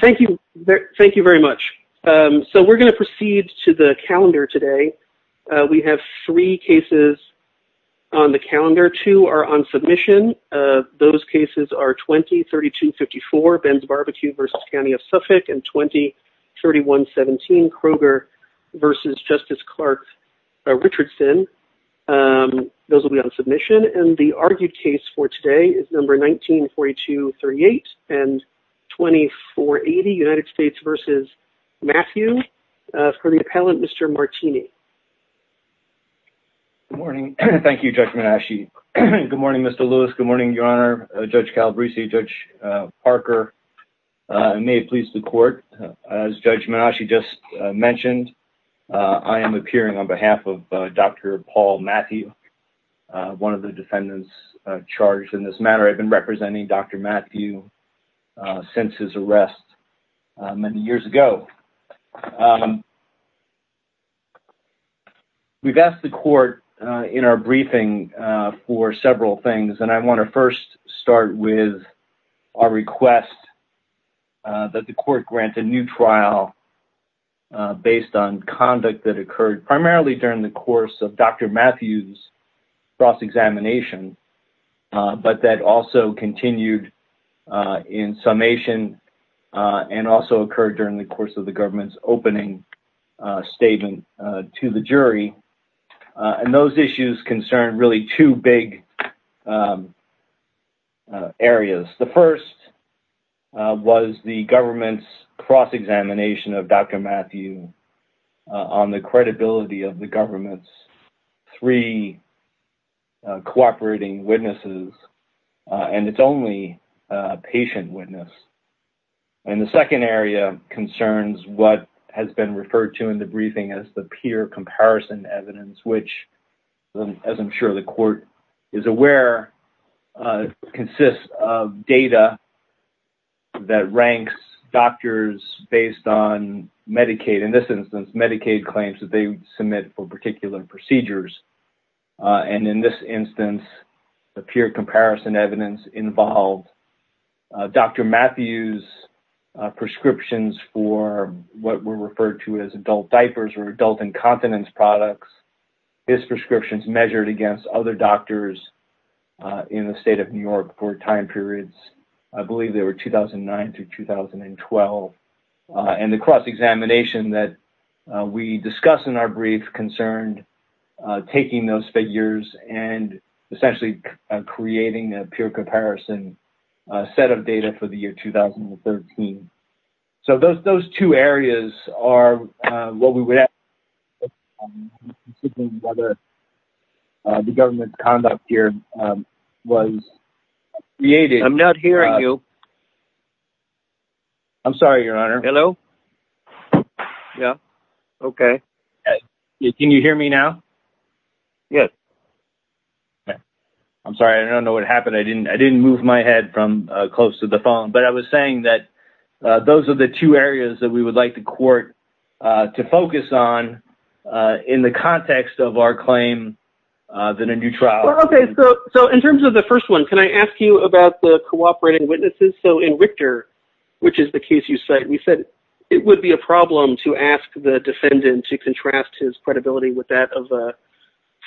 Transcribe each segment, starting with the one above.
Thank you very much. So we're going to proceed to the calendar today. We have three cases on the calendar. Two are on submission. Those cases are 20-3254, Ben's Barbecue v. County of Suffolk, and 20-3117, Kroger v. Justice Clark Richardson. Those will be on submission. And the argued case for today is 19-4238 and 20-480, United States v. Mathieu, for the appellant, Mr. Martini. Good morning. Thank you, Judge Menasche. Good morning, Mr. Lewis. Good morning, Your Honor. Judge Calabresi, Judge Parker, may it please the Court. As Judge Menasche just mentioned, I am appearing on behalf of Dr. Paul Mathieu, one of the defendants charged in this matter. I've been representing Dr. Mathieu since his arrest many years ago. We've asked the Court in our briefing for several things, and I want to first start with our request that the Court grant a new trial based on conduct that occurred primarily during the course of Dr. Mathieu's cross-examination, but that also continued in summation and also occurred during the course of the government's opening statement to the jury. And those issues concern really two big areas. The first was the government's cross-examination of Dr. Mathieu on the credibility of the government's three cooperating witnesses, and its only patient witness. And the second area concerns what has been referred to in the briefing as the peer comparison evidence, which, as I'm sure the Court is aware, consists of data that ranks doctors based on Medicaid. In this instance, Medicaid claims that they submit for particular procedures. And in this instance, the peer comparison evidence involved Dr. Mathieu's prescriptions for what were referred to as adult diapers or adult incontinence products. His prescriptions measured against other doctors in the state of New York for time periods, I believe they were 2009 to 2012. And the cross-examination that we discuss in our brief concerned taking those figures and essentially creating a peer comparison set of data for the year 2013. So those two areas are what we would have to consider whether the government's conduct here was created. I'm not hearing you. I'm sorry, Your Honor. Hello? Yeah. Okay. Can you hear me now? Yes. I'm sorry. I don't know what happened. I didn't move my head from close to the phone. But I was saying that those are the two areas that we would like the Court to focus on in the context of our claim that a new trial. Okay. So in terms of the first one, can I ask you about the cooperating witnesses? So in Richter, which is the case you cite, we said it would be a problem to ask the defendant to contrast his credibility with that of a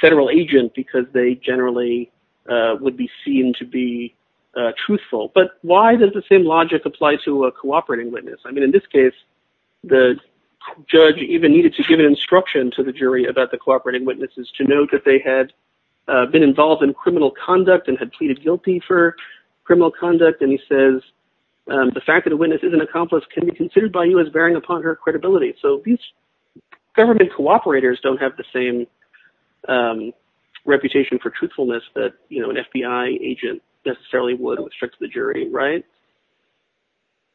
federal agent because they generally would be seen to be truthful. But why does the same logic apply to a cooperating witness? I mean, in this case, the judge even needed to give an instruction to the jury about the cooperating witnesses to note that they had been involved in criminal conduct and had pleaded guilty for criminal conduct. And he says, the fact that the witness is an accomplice can be considered by you as bearing upon her credibility. So these government cooperators don't have the same reputation for truthfulness that an FBI agent necessarily would with respect to the jury, right?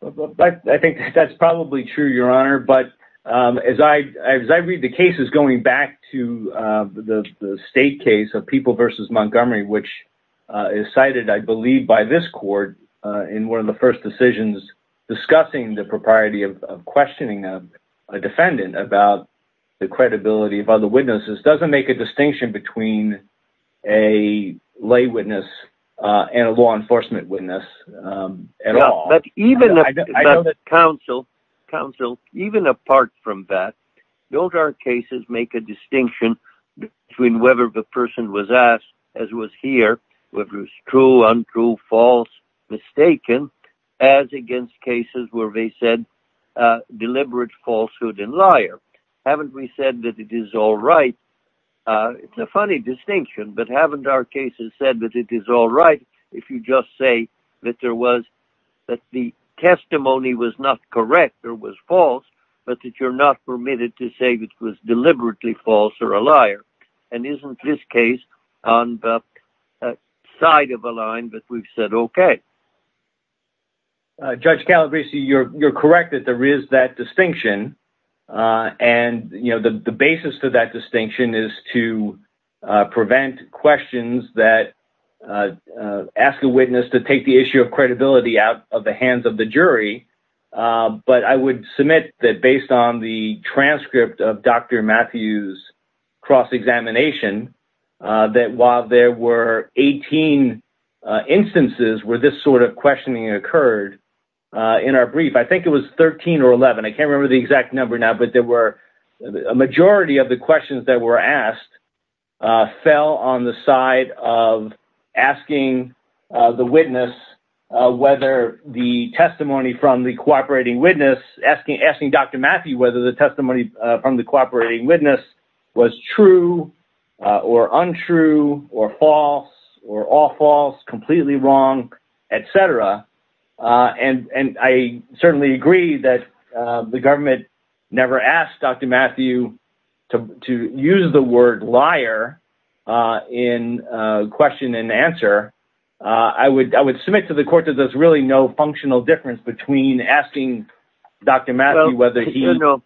I think that's probably true, Your Honor. But as I read the cases going back to the state case of People v. Montgomery, which is cited, I believe, by this court in one of the first decisions, discussing the propriety of questioning a defendant about the credibility of other witnesses doesn't make a distinction between a lay witness and a law enforcement witness at all. But even counsel, counsel, even apart from that, don't our cases make a distinction between whether the person was asked, as was here, whether it was true, untrue, false, mistaken, as against cases where they said deliberate falsehood and liar. Haven't we said that it is all right? It's a funny distinction, but haven't our cases said that it is all right if you just say that there was that the testimony was not correct or was false, but that you're not permitted to say it was deliberately false or a liar? And isn't this case on the side of a line that we've said, OK? Judge Calabresi, you're correct that there is that distinction. And, you know, the basis to that distinction is to prevent questions that ask the witness to take the issue of transcript of Dr. Matthews' cross-examination, that while there were 18 instances where this sort of questioning occurred in our brief, I think it was 13 or 11, I can't remember the exact number now, but there were a majority of the questions that were asked fell on the side of asking the witness whether the testimony from the cooperating witness, asking Dr. Matthews the testimony from the cooperating witness was true or untrue or false or all false, completely wrong, etc. And I certainly agree that the government never asked Dr. Matthew to use the word liar in question and answer. I would submit to the court that there's really no functional difference between asking Dr. Matthew whether he... Well, you know,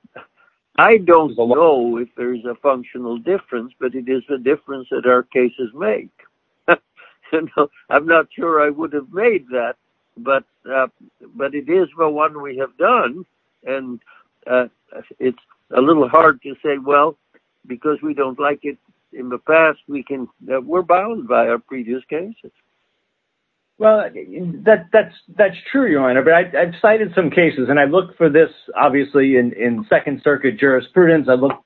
I don't know if there's a functional difference, but it is the difference that our cases make. I'm not sure I would have made that, but it is the one we have done. And it's a little hard to say, well, because we don't like it in the past. We're bound by our previous cases. Well, that's true, Your Honor, but I've cited some cases and I look for this, obviously, in Second Circuit jurisprudence. I look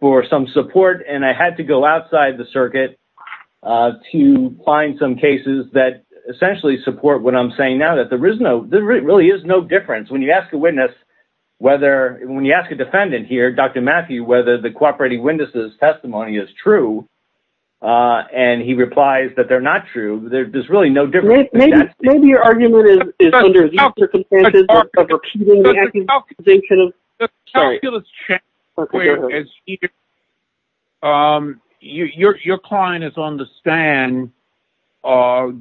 for some support and I had to go outside the circuit to find some cases that essentially support what I'm saying now, that there really is no difference when you ask a witness whether... When you ask a defendant here, Dr. Matthew, whether the cooperating witness's testimony is true, and he replies that they're not true, there's really no difference. Maybe your argument is under these circumstances of repeating the accusation of... The calculus changes. Your client is on the stand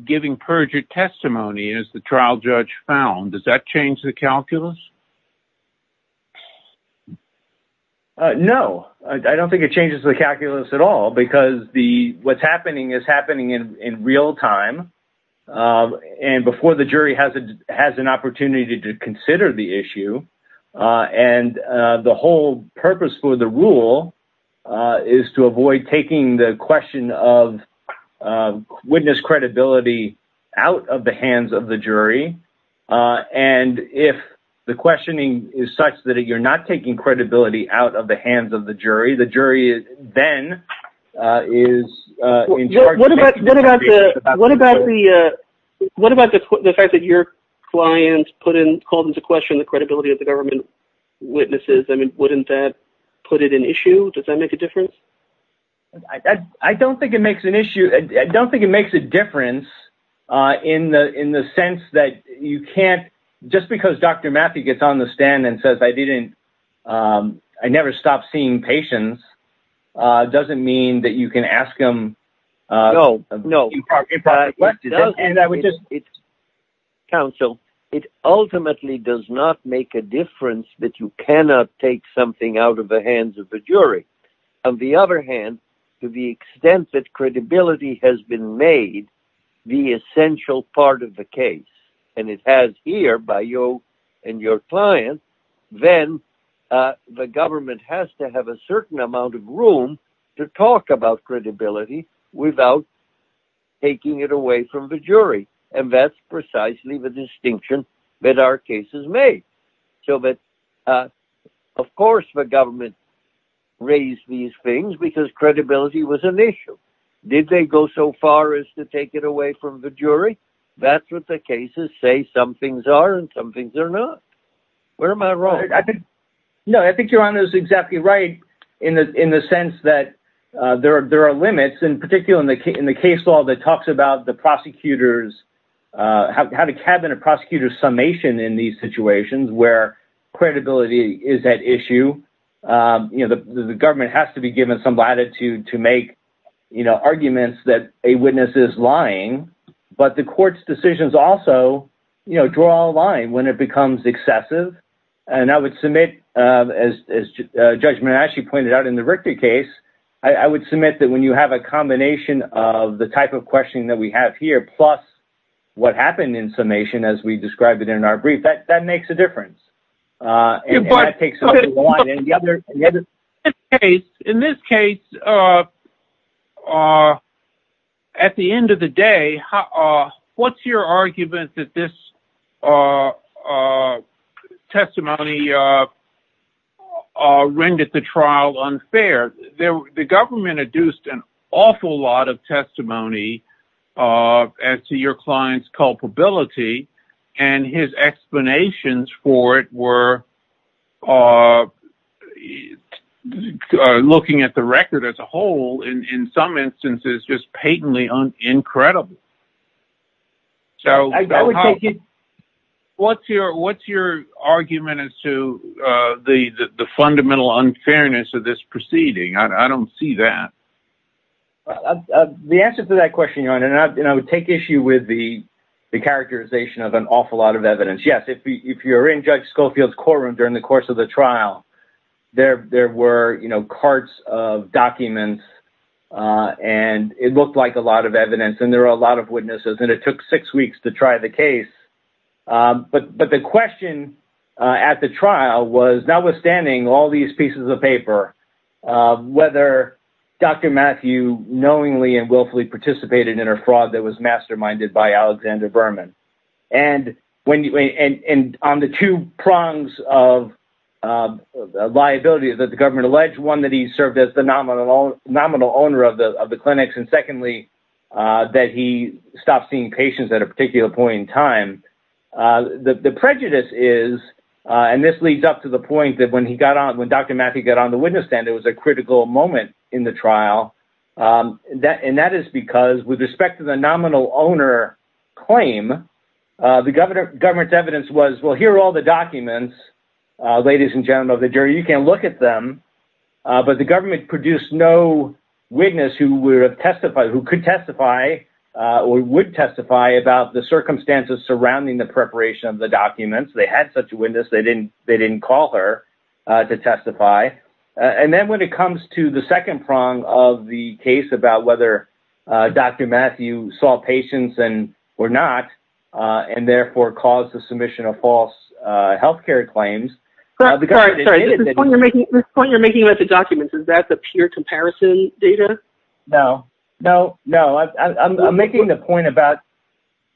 giving perjured testimony, as the trial judge found. Does that change the calculus? No, I don't think it changes the calculus at all because what's happening is happening in real time and before the jury has an opportunity to consider the issue. And the whole purpose for the rule is to avoid taking the question of witness credibility out of the hands of the jury. And if the questioning is such that you're not taking credibility out of the hands of the jury, the jury then is in charge... What about the fact that your client called into question the credibility of the government witnesses? Wouldn't that put it in issue? Does that make a difference? I don't think it makes an issue. I don't think it makes a difference in the sense that you can't... Just because Dr. Matthew gets on the stand and says, I never stopped seeing patients, doesn't mean that you can ask him... Counsel, it ultimately does not make a difference that you cannot take something out of the hands of the jury. On the other hand, to the extent that credibility has been made the essential part of the case, and it has here by you and your client, then the government has to have a certain amount of room to talk about credibility without taking it away from the jury. And that's precisely the distinction that our case has made. So that, of course, the government raised these things because credibility was an issue. Did they go so far as to take it away from the jury? That's what the cases say. Some things are and some things are not. Where am I wrong? No, I think your honor is exactly right in the sense that there are limits, in particular, in the case law that talks about the prosecutor's... How to cabinet a prosecutor's summation in these situations where credibility is at issue. The government has to be given some latitude to make arguments that a witness is lying, but the court's decisions also draw a line when it becomes excessive. And I would submit, as Judge Manasci pointed out in the Richter case, I would submit that when you have a combination of the type of questioning that we have here plus what happened in summation as we described it in our brief, that makes a difference. And that takes over the line. In this case, at the end of the day, what's your argument that this testimony rendered the trial unfair? The government adduced an awful lot of testimony as to your client's culpability, and his explanations for it were looking at the record as a whole, in some instances, just patently incredible. What's your argument as to the fundamental unfairness of this proceeding? I don't see that. The answer to that question, Your Honor, and I would take issue with the characterization of an awful lot of evidence. Yes, if you're in Judge Schofield's courtroom during the course of the trial, there were carts of documents, and it looked like a lot of evidence, and there were a lot of witnesses, and it took six weeks to try the case. But the question at the trial was, notwithstanding all these pieces of paper, whether Dr. Matthew knowingly and willfully participated in a fraud that was masterminded by Alexander Berman. And on the two prongs of liability that the government alleged, one, that he served as the nominal owner of the clinics, and secondly, that he stopped seeing patients at a particular point in time, the prejudice is, and this leads up to the point that when Dr. Matthew got on the witness stand, it was a critical moment in the trial. And that is because, with respect to the nominal owner claim, the government's evidence was, well, here are all the documents, ladies and gentlemen of the jury, you can look at them. But the government produced no witness who could testify or would testify about the circumstances surrounding the preparation of the documents. They had such a witness, they didn't call her to testify. And then when it comes to the second prong of the case about whether Dr. Matthew saw patients or not, and therefore caused the submission of false health care claims. Sorry, this point you're making about the No, no, I'm making the point about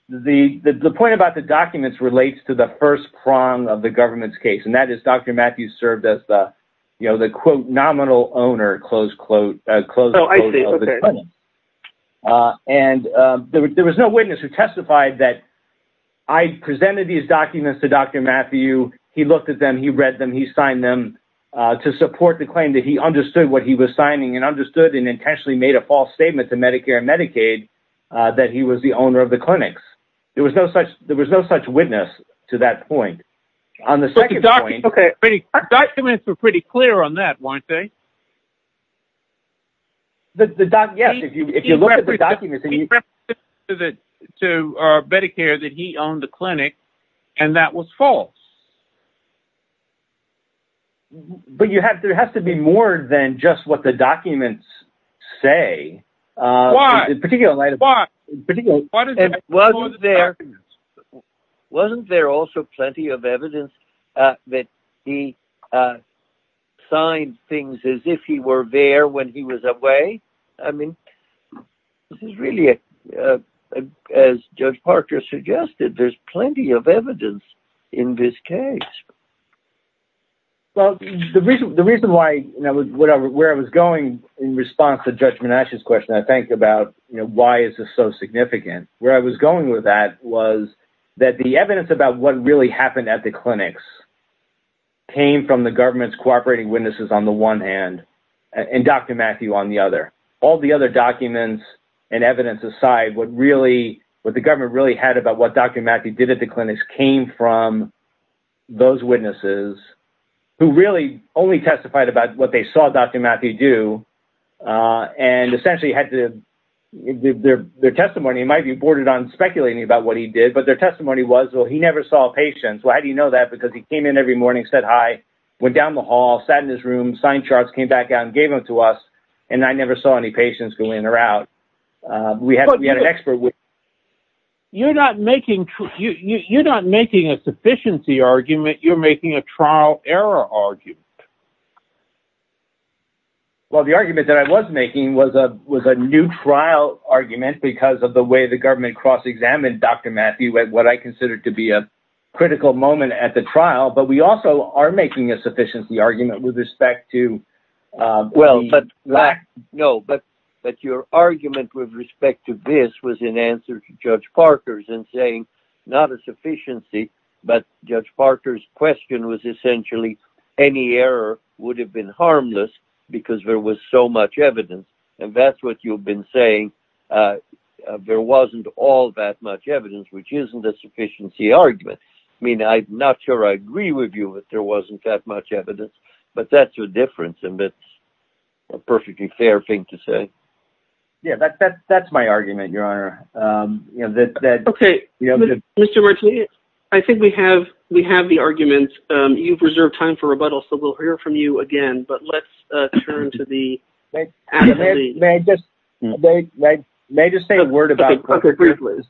the point about the documents relates to the first prong of the government's case. And that is Dr. Matthew served as the, you know, the quote, nominal owner, close quote, close. And there was no witness who testified that I presented these documents to Dr. Matthew, he looked at them, he read them, he signed them to support the claim that he understood what he was signing and understood and intentionally made a false statement to Medicare and Medicaid, that he was the owner of the clinics. There was no such there was no such witness to that point. On the second document. Okay. Documents were pretty clear on that, weren't they? The doc? Yes. If you if you look at the documents to the to our Medicare, that he owned the clinic. And that was false. But you have there has to be more than just what the Why? In particular, why? Wasn't there also plenty of evidence that he signed things as if he were there when he was away? I mean, this is really, as Judge Parker suggested, there's plenty of evidence in this case. Well, the reason the reason why, you know, whatever, where I was going, in response to judgment ashes question, I think about, you know, why is this so significant? Where I was going with that was that the evidence about what really happened at the clinics came from the government's cooperating witnesses on the one hand, and Dr. Matthew, on the other, all the other documents, and evidence aside, what really what the government really had about what Dr. Matthew did at the witnesses, who really only testified about what they saw Dr. Matthew do. And essentially had to their testimony might be bordered on speculating about what he did. But their testimony was, well, he never saw a patient. So how do you know that? Because he came in every morning, said hi, went down the hall, sat in his room, sign charts came back out and gave them to us. And I never saw any patients go in or out. We had an expert with you're not making you you're not making a sufficiency argument, you're making a trial error argument. Well, the argument that I was making was a was a new trial argument because of the way the government cross examined Dr. Matthew at what I consider to be a critical moment at the trial, but we also are making a sufficiency argument with respect to Well, but no, but but your argument with respect to this was in answer to Judge Parker's and saying, not a sufficiency. But Judge Parker's question was essentially, any error would have been harmless, because there was so much evidence. And that's what you've been saying. There wasn't all that much evidence, which isn't a sufficiency argument. I mean, I'm not sure I agree with you, but there wasn't that much evidence. But that's your difference. And that's a perfectly fair thing to say. Yeah, that's, that's, that's my argument, Your Honor. Okay, Mr. Martini, I think we have we have the argument. You've reserved time for rebuttal. So we'll hear from you again. But let's turn to the Okay, please.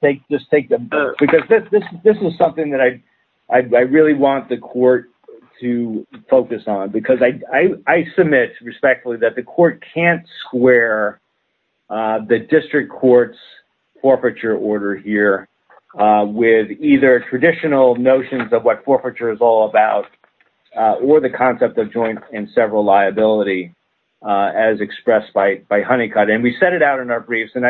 Take this take the because this is something that I really want the court to focus on, because I submit respectfully that the court can't square the district courts forfeiture order here with either traditional notions of what forfeiture is all about, or the concept of joint and several liability, as expressed by Honeycutt. And we set it out in our questions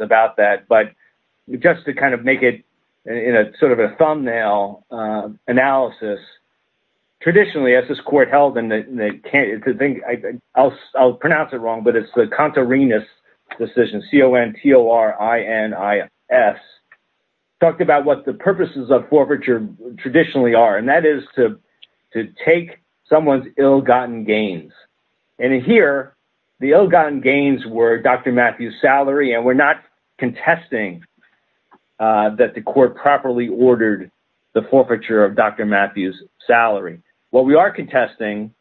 about that. But just to kind of make it in a sort of a thumbnail analysis. Traditionally, as this court held and they can't think I'll, I'll pronounce it wrong, but it's the contrariness decision. C-O-N-T-O-R-I-N-I-S talked about what the purposes of forfeiture traditionally are, and that is to take someone's ill gotten gains. And here, the ill gotten gains were Dr. Matthews salary and we're not contesting that the court properly ordered the forfeiture of Dr. Matthews salary. What we are contesting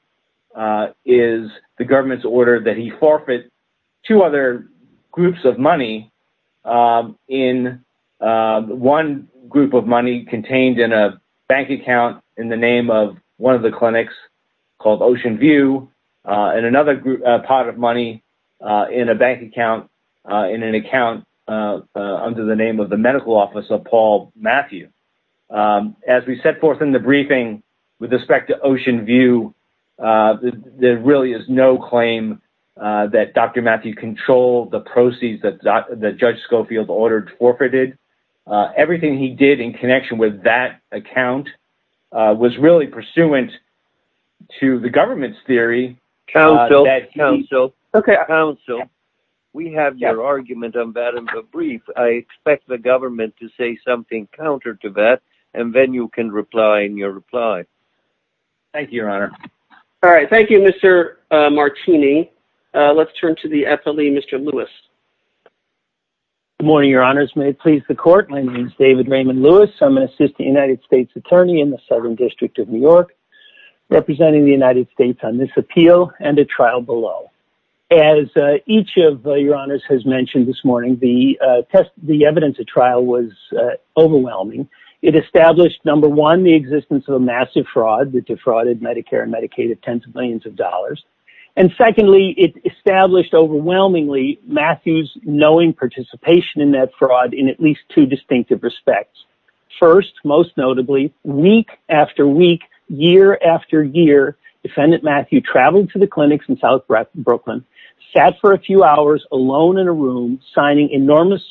is the government's order that he forfeit two other groups of money in one group of money contained in a bank account in the pot of money in a bank account, in an account under the name of the medical office of Paul Matthew. As we set forth in the briefing, with respect to Oceanview, there really is no claim that Dr. Matthews controlled the proceeds that the Judge Schofield ordered forfeited. Everything he did in connection with that account was really pursuant to the government's theory counsel. Okay. Counsel, we have your argument on that in the brief. I expect the government to say something counter to that, and then you can reply in your reply. Thank you, Your Honor. All right. Thank you, Mr. Martini. Let's turn to the FLE, Mr. Lewis. Good morning, Your Honors. May it please the court. My name is David Raymond Lewis. I'm an assistant United States attorney in the Southern District of New York, representing the United States Department of Justice. I'm here to talk to you about the FLE trial. As each of Your Honors has mentioned this morning, the evidence of trial was overwhelming. It established, number one, the existence of a massive fraud that defrauded Medicare and Medicaid of tens of millions of dollars. And secondly, it established overwhelmingly Matthews' knowing participation in that fraud in least two distinctive respects. First, most notably, week after week, year after year, defendant Matthew traveled to the clinics in South Brooklyn, sat for a few hours alone in a room, signing enormous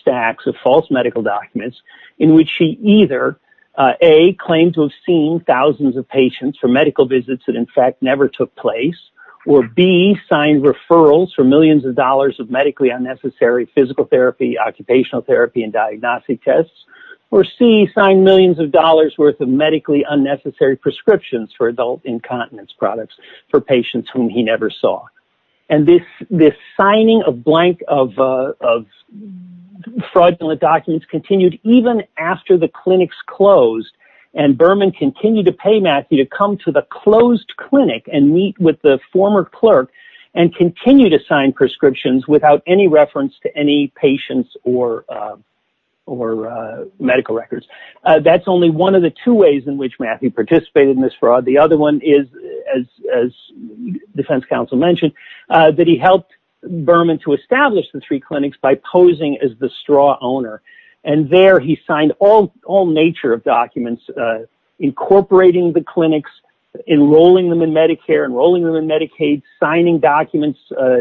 stacks of false medical documents in which he either, A, claimed to have seen thousands of patients for medical visits that in fact never took place, or B, signed referrals for therapy and diagnostic tests, or C, signed millions of dollars worth of medically unnecessary prescriptions for adult incontinence products for patients whom he never saw. And this signing of fraudulent documents continued even after the clinics closed, and Berman continued to pay Matthew to come to the closed clinic and meet with the former clerk and continue to sign prescriptions without any reference to any patients or medical records. That's only one of the two ways in which Matthew participated in this fraud. The other one is, as defense counsel mentioned, that he helped Berman to establish the three clinics by posing as the straw owner. And there, he signed all nature of documents, incorporating the clinics, enrolling them in Medicare, enrolling them in Medicaid, signing documents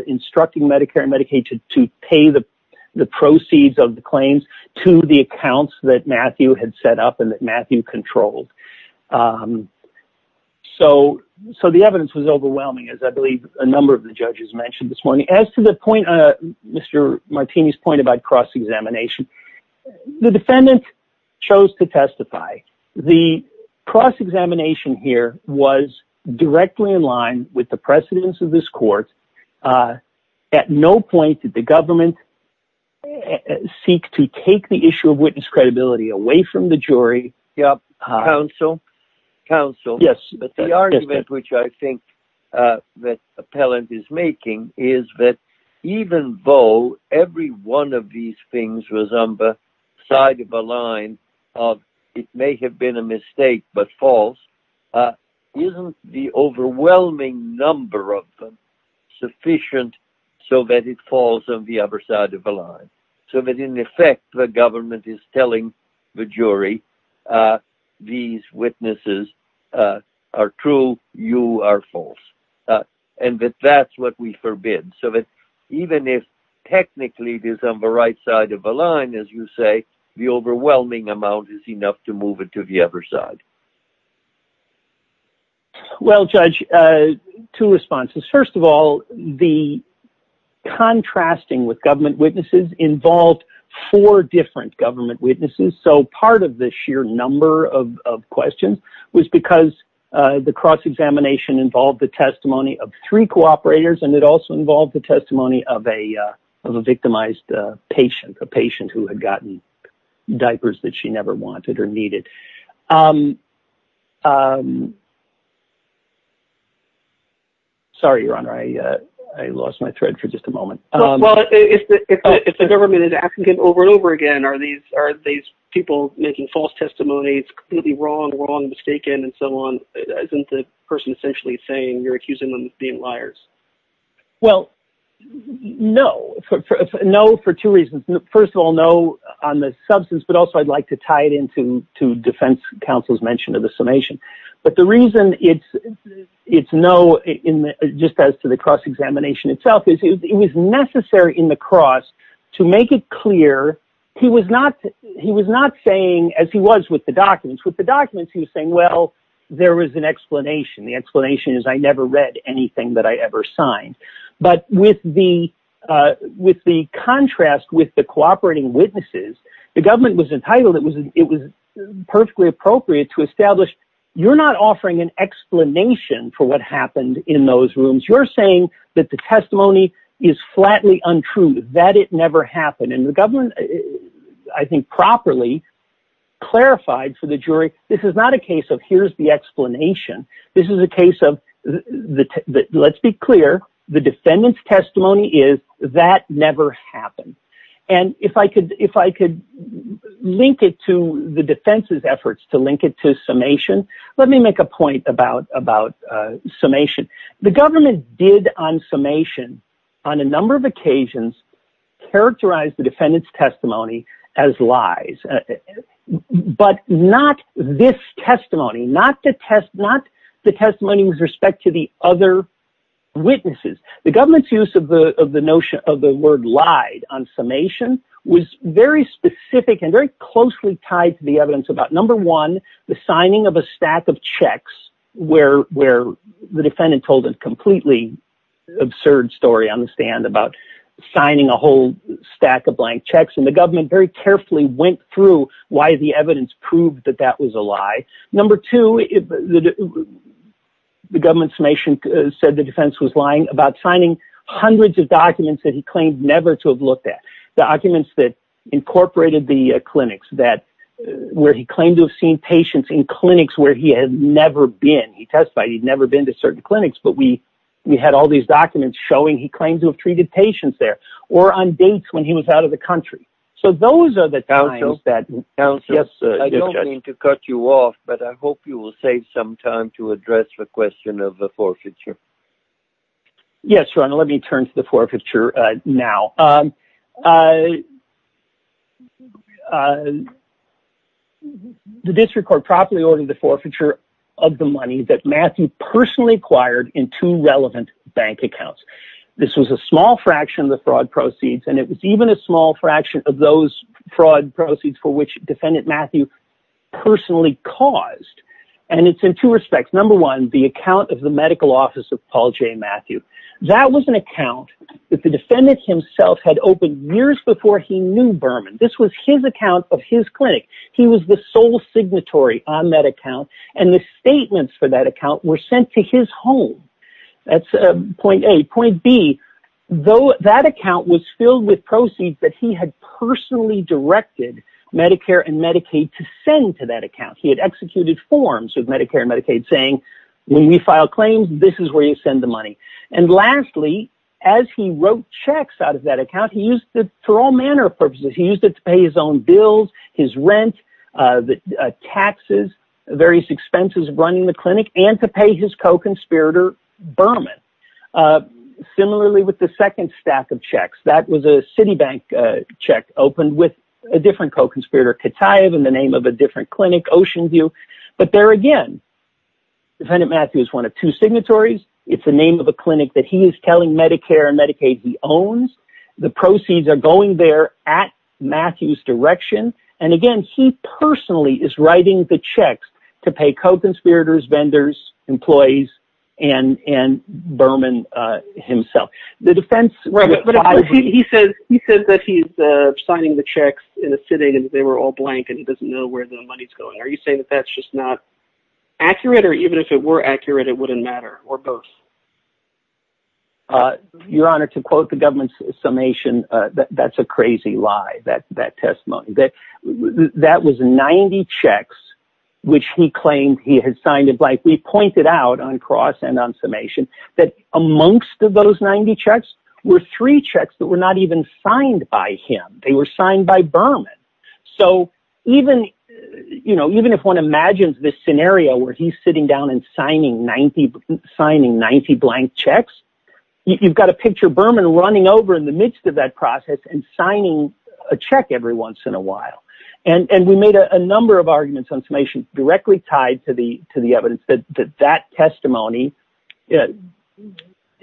instructing Medicare and Medicaid to pay the proceeds of the claims to the accounts that Matthew had set up and that Matthew controlled. So the evidence was overwhelming, as I believe a number of the judges mentioned this morning. As to Mr. Martini's point about cross-examination, the defendant chose to testify. The cross-examination here was directly in line with the precedence of this court. At no point did the government seek to take the issue of witness credibility away from the jury. The argument which I think the appellant is making is that even though every one of these things was on the side of the line of it may have been a mistake but false, isn't the overwhelming number of them sufficient so that it falls on the other side of the line, so that in effect the government is telling the jury these witnesses are true, you are false, and that that's what we forbid. So that even if technically it is on the right side of the line, as you say, the overwhelming amount is enough to move it to the other side. Well, Judge, two responses. First of all, the contrasting with government witnesses involved four different government witnesses. So part of the sheer number of questions was because the cross-examination involved the testimony of three cooperators and it also involved the testimony of a victimized patient, a patient who had gotten diapers that she never wanted or needed. Sorry, your honor, I lost my thread for just a moment. If the government is asking him over and over again, are these people making false testimonies, completely wrong, wrong, mistaken, and so on, isn't the person essentially saying you're accusing them of being liars? Well, no. No for two reasons. First of all, no on the substance, but also I'd like to tie it in to defense counsel's mention of the summation. But the reason it's no just as to the cross-examination itself is it was necessary in the cross to make it clear he was not saying, as he was with the documents, he was saying, well, there is an explanation. The explanation is I never read anything that I ever signed. But with the contrast with the cooperating witnesses, the government was entitled, it was perfectly appropriate to establish you're not offering an is flatly untrue, that it never happened. And the government, I think, properly clarified for the jury, this is not a case of here's the explanation. This is a case of, let's be clear, the defendant's testimony is that never happened. And if I could link it to the defense's efforts to link it to summation, the government did on summation, on a number of occasions, characterize the defendant's testimony as lies. But not this testimony, not the testimony with respect to the other witnesses. The government's use of the notion of the word lied on summation was very specific and closely tied to the evidence about, number one, the signing of a stack of checks where the defendant told a completely absurd story on the stand about signing a whole stack of blank checks. And the government very carefully went through why the evidence proved that that was a lie. Number two, the government's summation said the defense was lying about signing hundreds of that where he claimed to have seen patients in clinics where he had never been. He testified he'd never been to certain clinics, but we had all these documents showing he claimed to have treated patients there or on dates when he was out of the country. So those are the times that- Counsel, I don't mean to cut you off, but I hope you will save some time to address the question of the forfeiture. Yes, Ron, let me turn to the forfeiture now. The district court properly ordered the forfeiture of the money that Matthew personally acquired in two relevant bank accounts. This was a small fraction of the fraud proceeds, and it was even a small fraction of those fraud proceeds for which Defendant Matthew personally caused. And it's in two respects. Number one, the account of the medical office of Paul J. Matthew. That was an account that the defendant himself had opened years before he knew this was his account of his clinic. He was the sole signatory on that account, and the statements for that account were sent to his home. That's point A. Point B, though that account was filled with proceeds that he had personally directed Medicare and Medicaid to send to that account. He had executed forms with Medicare and Medicaid saying, when we file claims, this is where you send the money. And lastly, as he wrote checks out of that account, he used it to pay his own bills, his rent, taxes, various expenses running the clinic, and to pay his co-conspirator, Berman. Similarly, with the second stack of checks, that was a Citibank check opened with a different co-conspirator, Kataev, in the name of a different clinic, Oceanview. But there again, Defendant Matthew is one of two signatories. It's the name of a clinic that he is telling Medicare and Medicaid he owns. The proceeds are going there at Matthew's direction. And again, he personally is writing the checks to pay co-conspirators, vendors, employees, and Berman himself. He says that he's signing the checks in a sitting, and they were all blank, and he doesn't know where the money's going. Are you saying that that's just not accurate? Or even if it were accurate, it wouldn't matter, or both? Your Honor, to quote the government's summation, that's a crazy lie, that testimony. That was 90 checks, which he claimed he had signed it blank. We pointed out on cross and on summation that amongst those 90 checks were three checks that were not even signed by him. They were signed by Berman. So even if one imagines this scenario where he's sitting down and signing 90 blank checks, you've got a picture of Berman running over in the midst of that process and signing a check every once in a while. And we made a number of arguments on summation directly tied to the evidence that that testimony isn't...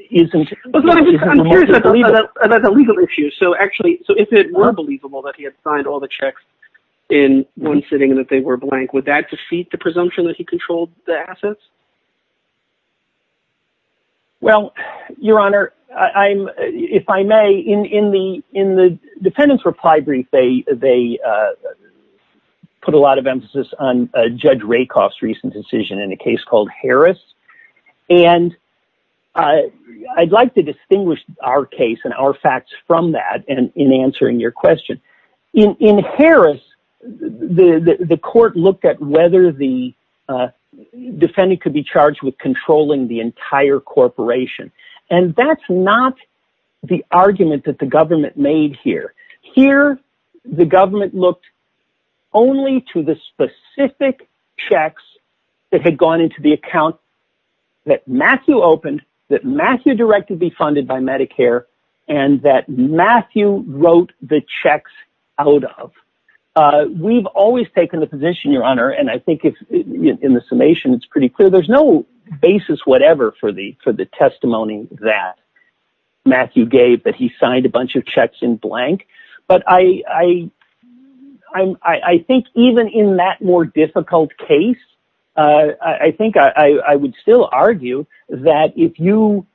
That's a legal issue. So actually, if it were believable that he had signed all the checks in one sitting and that they were blank, would that defeat the presumption that he controlled the assets? Well, Your Honor, if I may, in the defendant's reply brief, they put a lot of emphasis on Judge Rakoff's recent decision in a case called Harris. And I'd like to distinguish our case and our facts from that in answering your question. In Harris, the court looked at whether the defendant could be charged with controlling the entire corporation. And that's not the argument that the government made here. Here, the government looked only to the specific checks that had gone into the account that Matthew opened, that Matthew directed be funded by Medicare, and that Matthew wrote the checks out of. We've always taken the position, Your Honor, and I think in the summation, it's pretty clear. There's no basis whatever for the testimony that Matthew gave that he signed a bunch of checks in blank. But I think even in that more difficult case, I think I would still argue that if you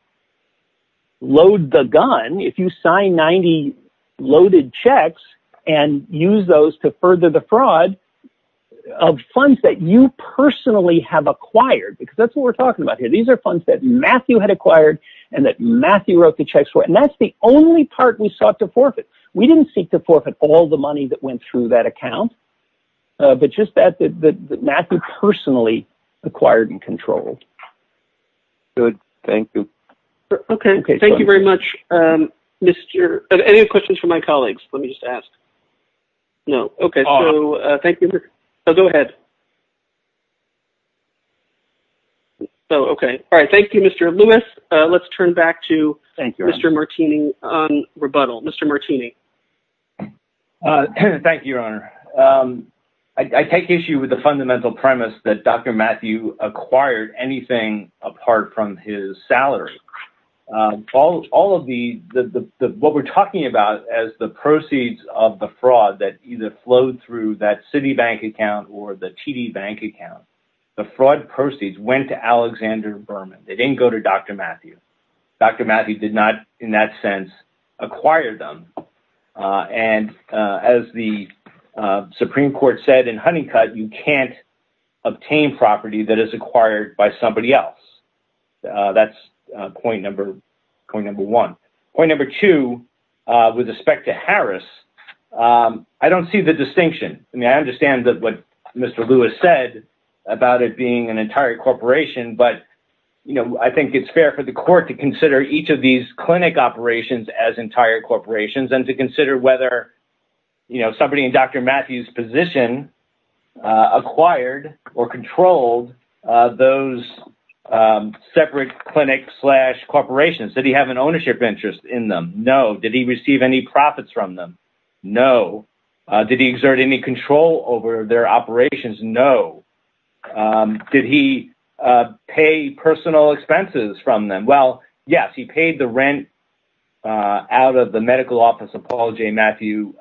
load the gun, if you sign 90 loaded checks and use those to further the fraud of funds that you personally have acquired, because that's what we're talking about here. These are funds that Matthew had acquired and that Matthew wrote the checks for. And that's the only part we sought to forfeit. We didn't seek to forfeit all the money that went through that account, but just that Matthew personally acquired and controlled. Good. Thank you. Okay. Thank you very much. Any questions for my colleagues? Let me just ask. No. Okay. Thank you. Go ahead. Okay. All right. Thank you, Mr. Lewis. Let's turn back to Mr. Martini on rebuttal. Mr. Martini. Thank you, Your Honor. I take issue with the fundamental premise that Dr. Matthew acquired anything apart from his salary. What we're talking about as the proceeds of the fraud that either flowed through that Citibank account or the TD Bank account, the fraud proceeds went to Alexander Berman. They didn't go to Dr. Matthew. Dr. Matthew did not, in that sense, acquire them. And as the Supreme Court said in Honeycutt, you can't obtain property that is acquired by somebody else. That's point number one. Point number two, with respect to Harris, I don't see the distinction. I mean, I understand that what Mr. Lewis said about it being an entire corporation, but I think it's fair for the court to consider each of these clinic operations as entire corporations and to consider whether somebody in Dr. Matthew's position acquired or controlled those separate clinics slash corporations. Did he have an ownership interest in them? No. Did he receive any profits from them? No. Did he exert any control over their operations? No. Did he pay personal expenses from them? Well, yes, he paid the rent out of the medical office of Paul J. Matthew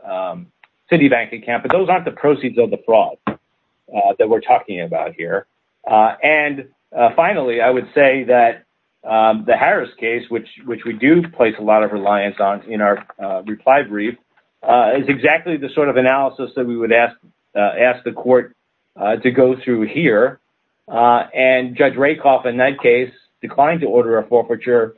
Citibank account, but those aren't the proceeds of the fraud that we're talking about here. And finally, I would say that the Harris case, which we do place a lot of reliance on in our reply brief, is exactly the sort of analysis that we would ask the court to go through here. And Judge Rakoff, in that case, declined to order a forfeiture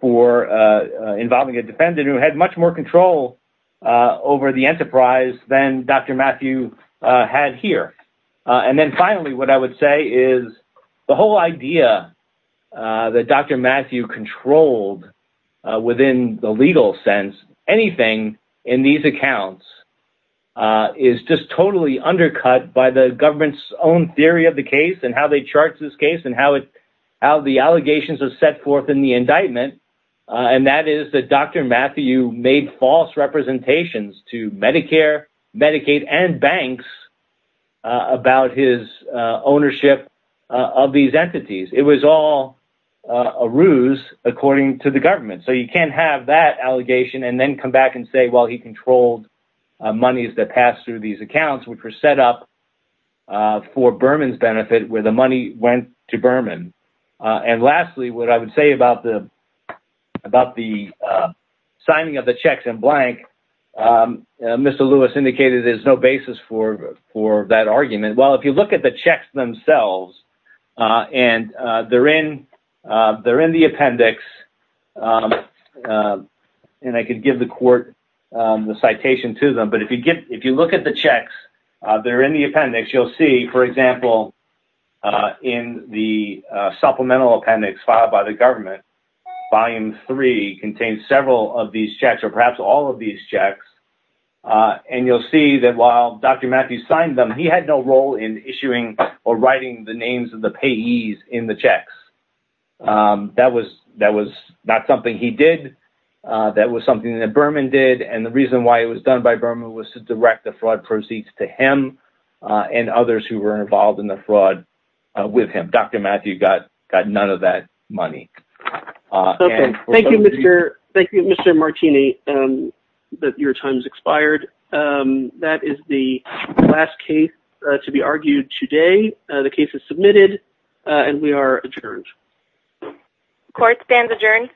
for involving a defendant who had much more control over the enterprise than Dr. Matthew had here. And then finally, what I would say is the whole idea that Dr. Matthew controlled within the legal sense, anything in these accounts is just totally undercut by the government's own theory of the case and how they chart this case and how the allegations are set forth in the indictment. And that is that Dr. Matthew made false representations to Medicare, Medicaid, and banks about his ownership of these entities. It was all a ruse according to the government. So you can't have that allegation and then come back and say, well, he controlled monies that passed through these accounts, which were set up for Berman's benefit, where the money went to Berman. And lastly, what I would say about the signing of the checks in the appendix. And I could give the court the citation to them, but if you look at the checks, they're in the appendix, you'll see, for example, in the supplemental appendix filed by the government, you'll see that while Dr. Matthew signed them, he had no role in issuing or writing the names of the payees in the checks. That was not something he did. That was something that Berman did. And the reason why it was done by Berman was to direct the fraud proceeds to him and others who were involved in the fraud with him. Dr. Matthew got none of that money. Okay. Thank you, Mr. Martini. Your time has expired. That is the last case to be argued today. The case is submitted and we are adjourned. Court stands adjourned.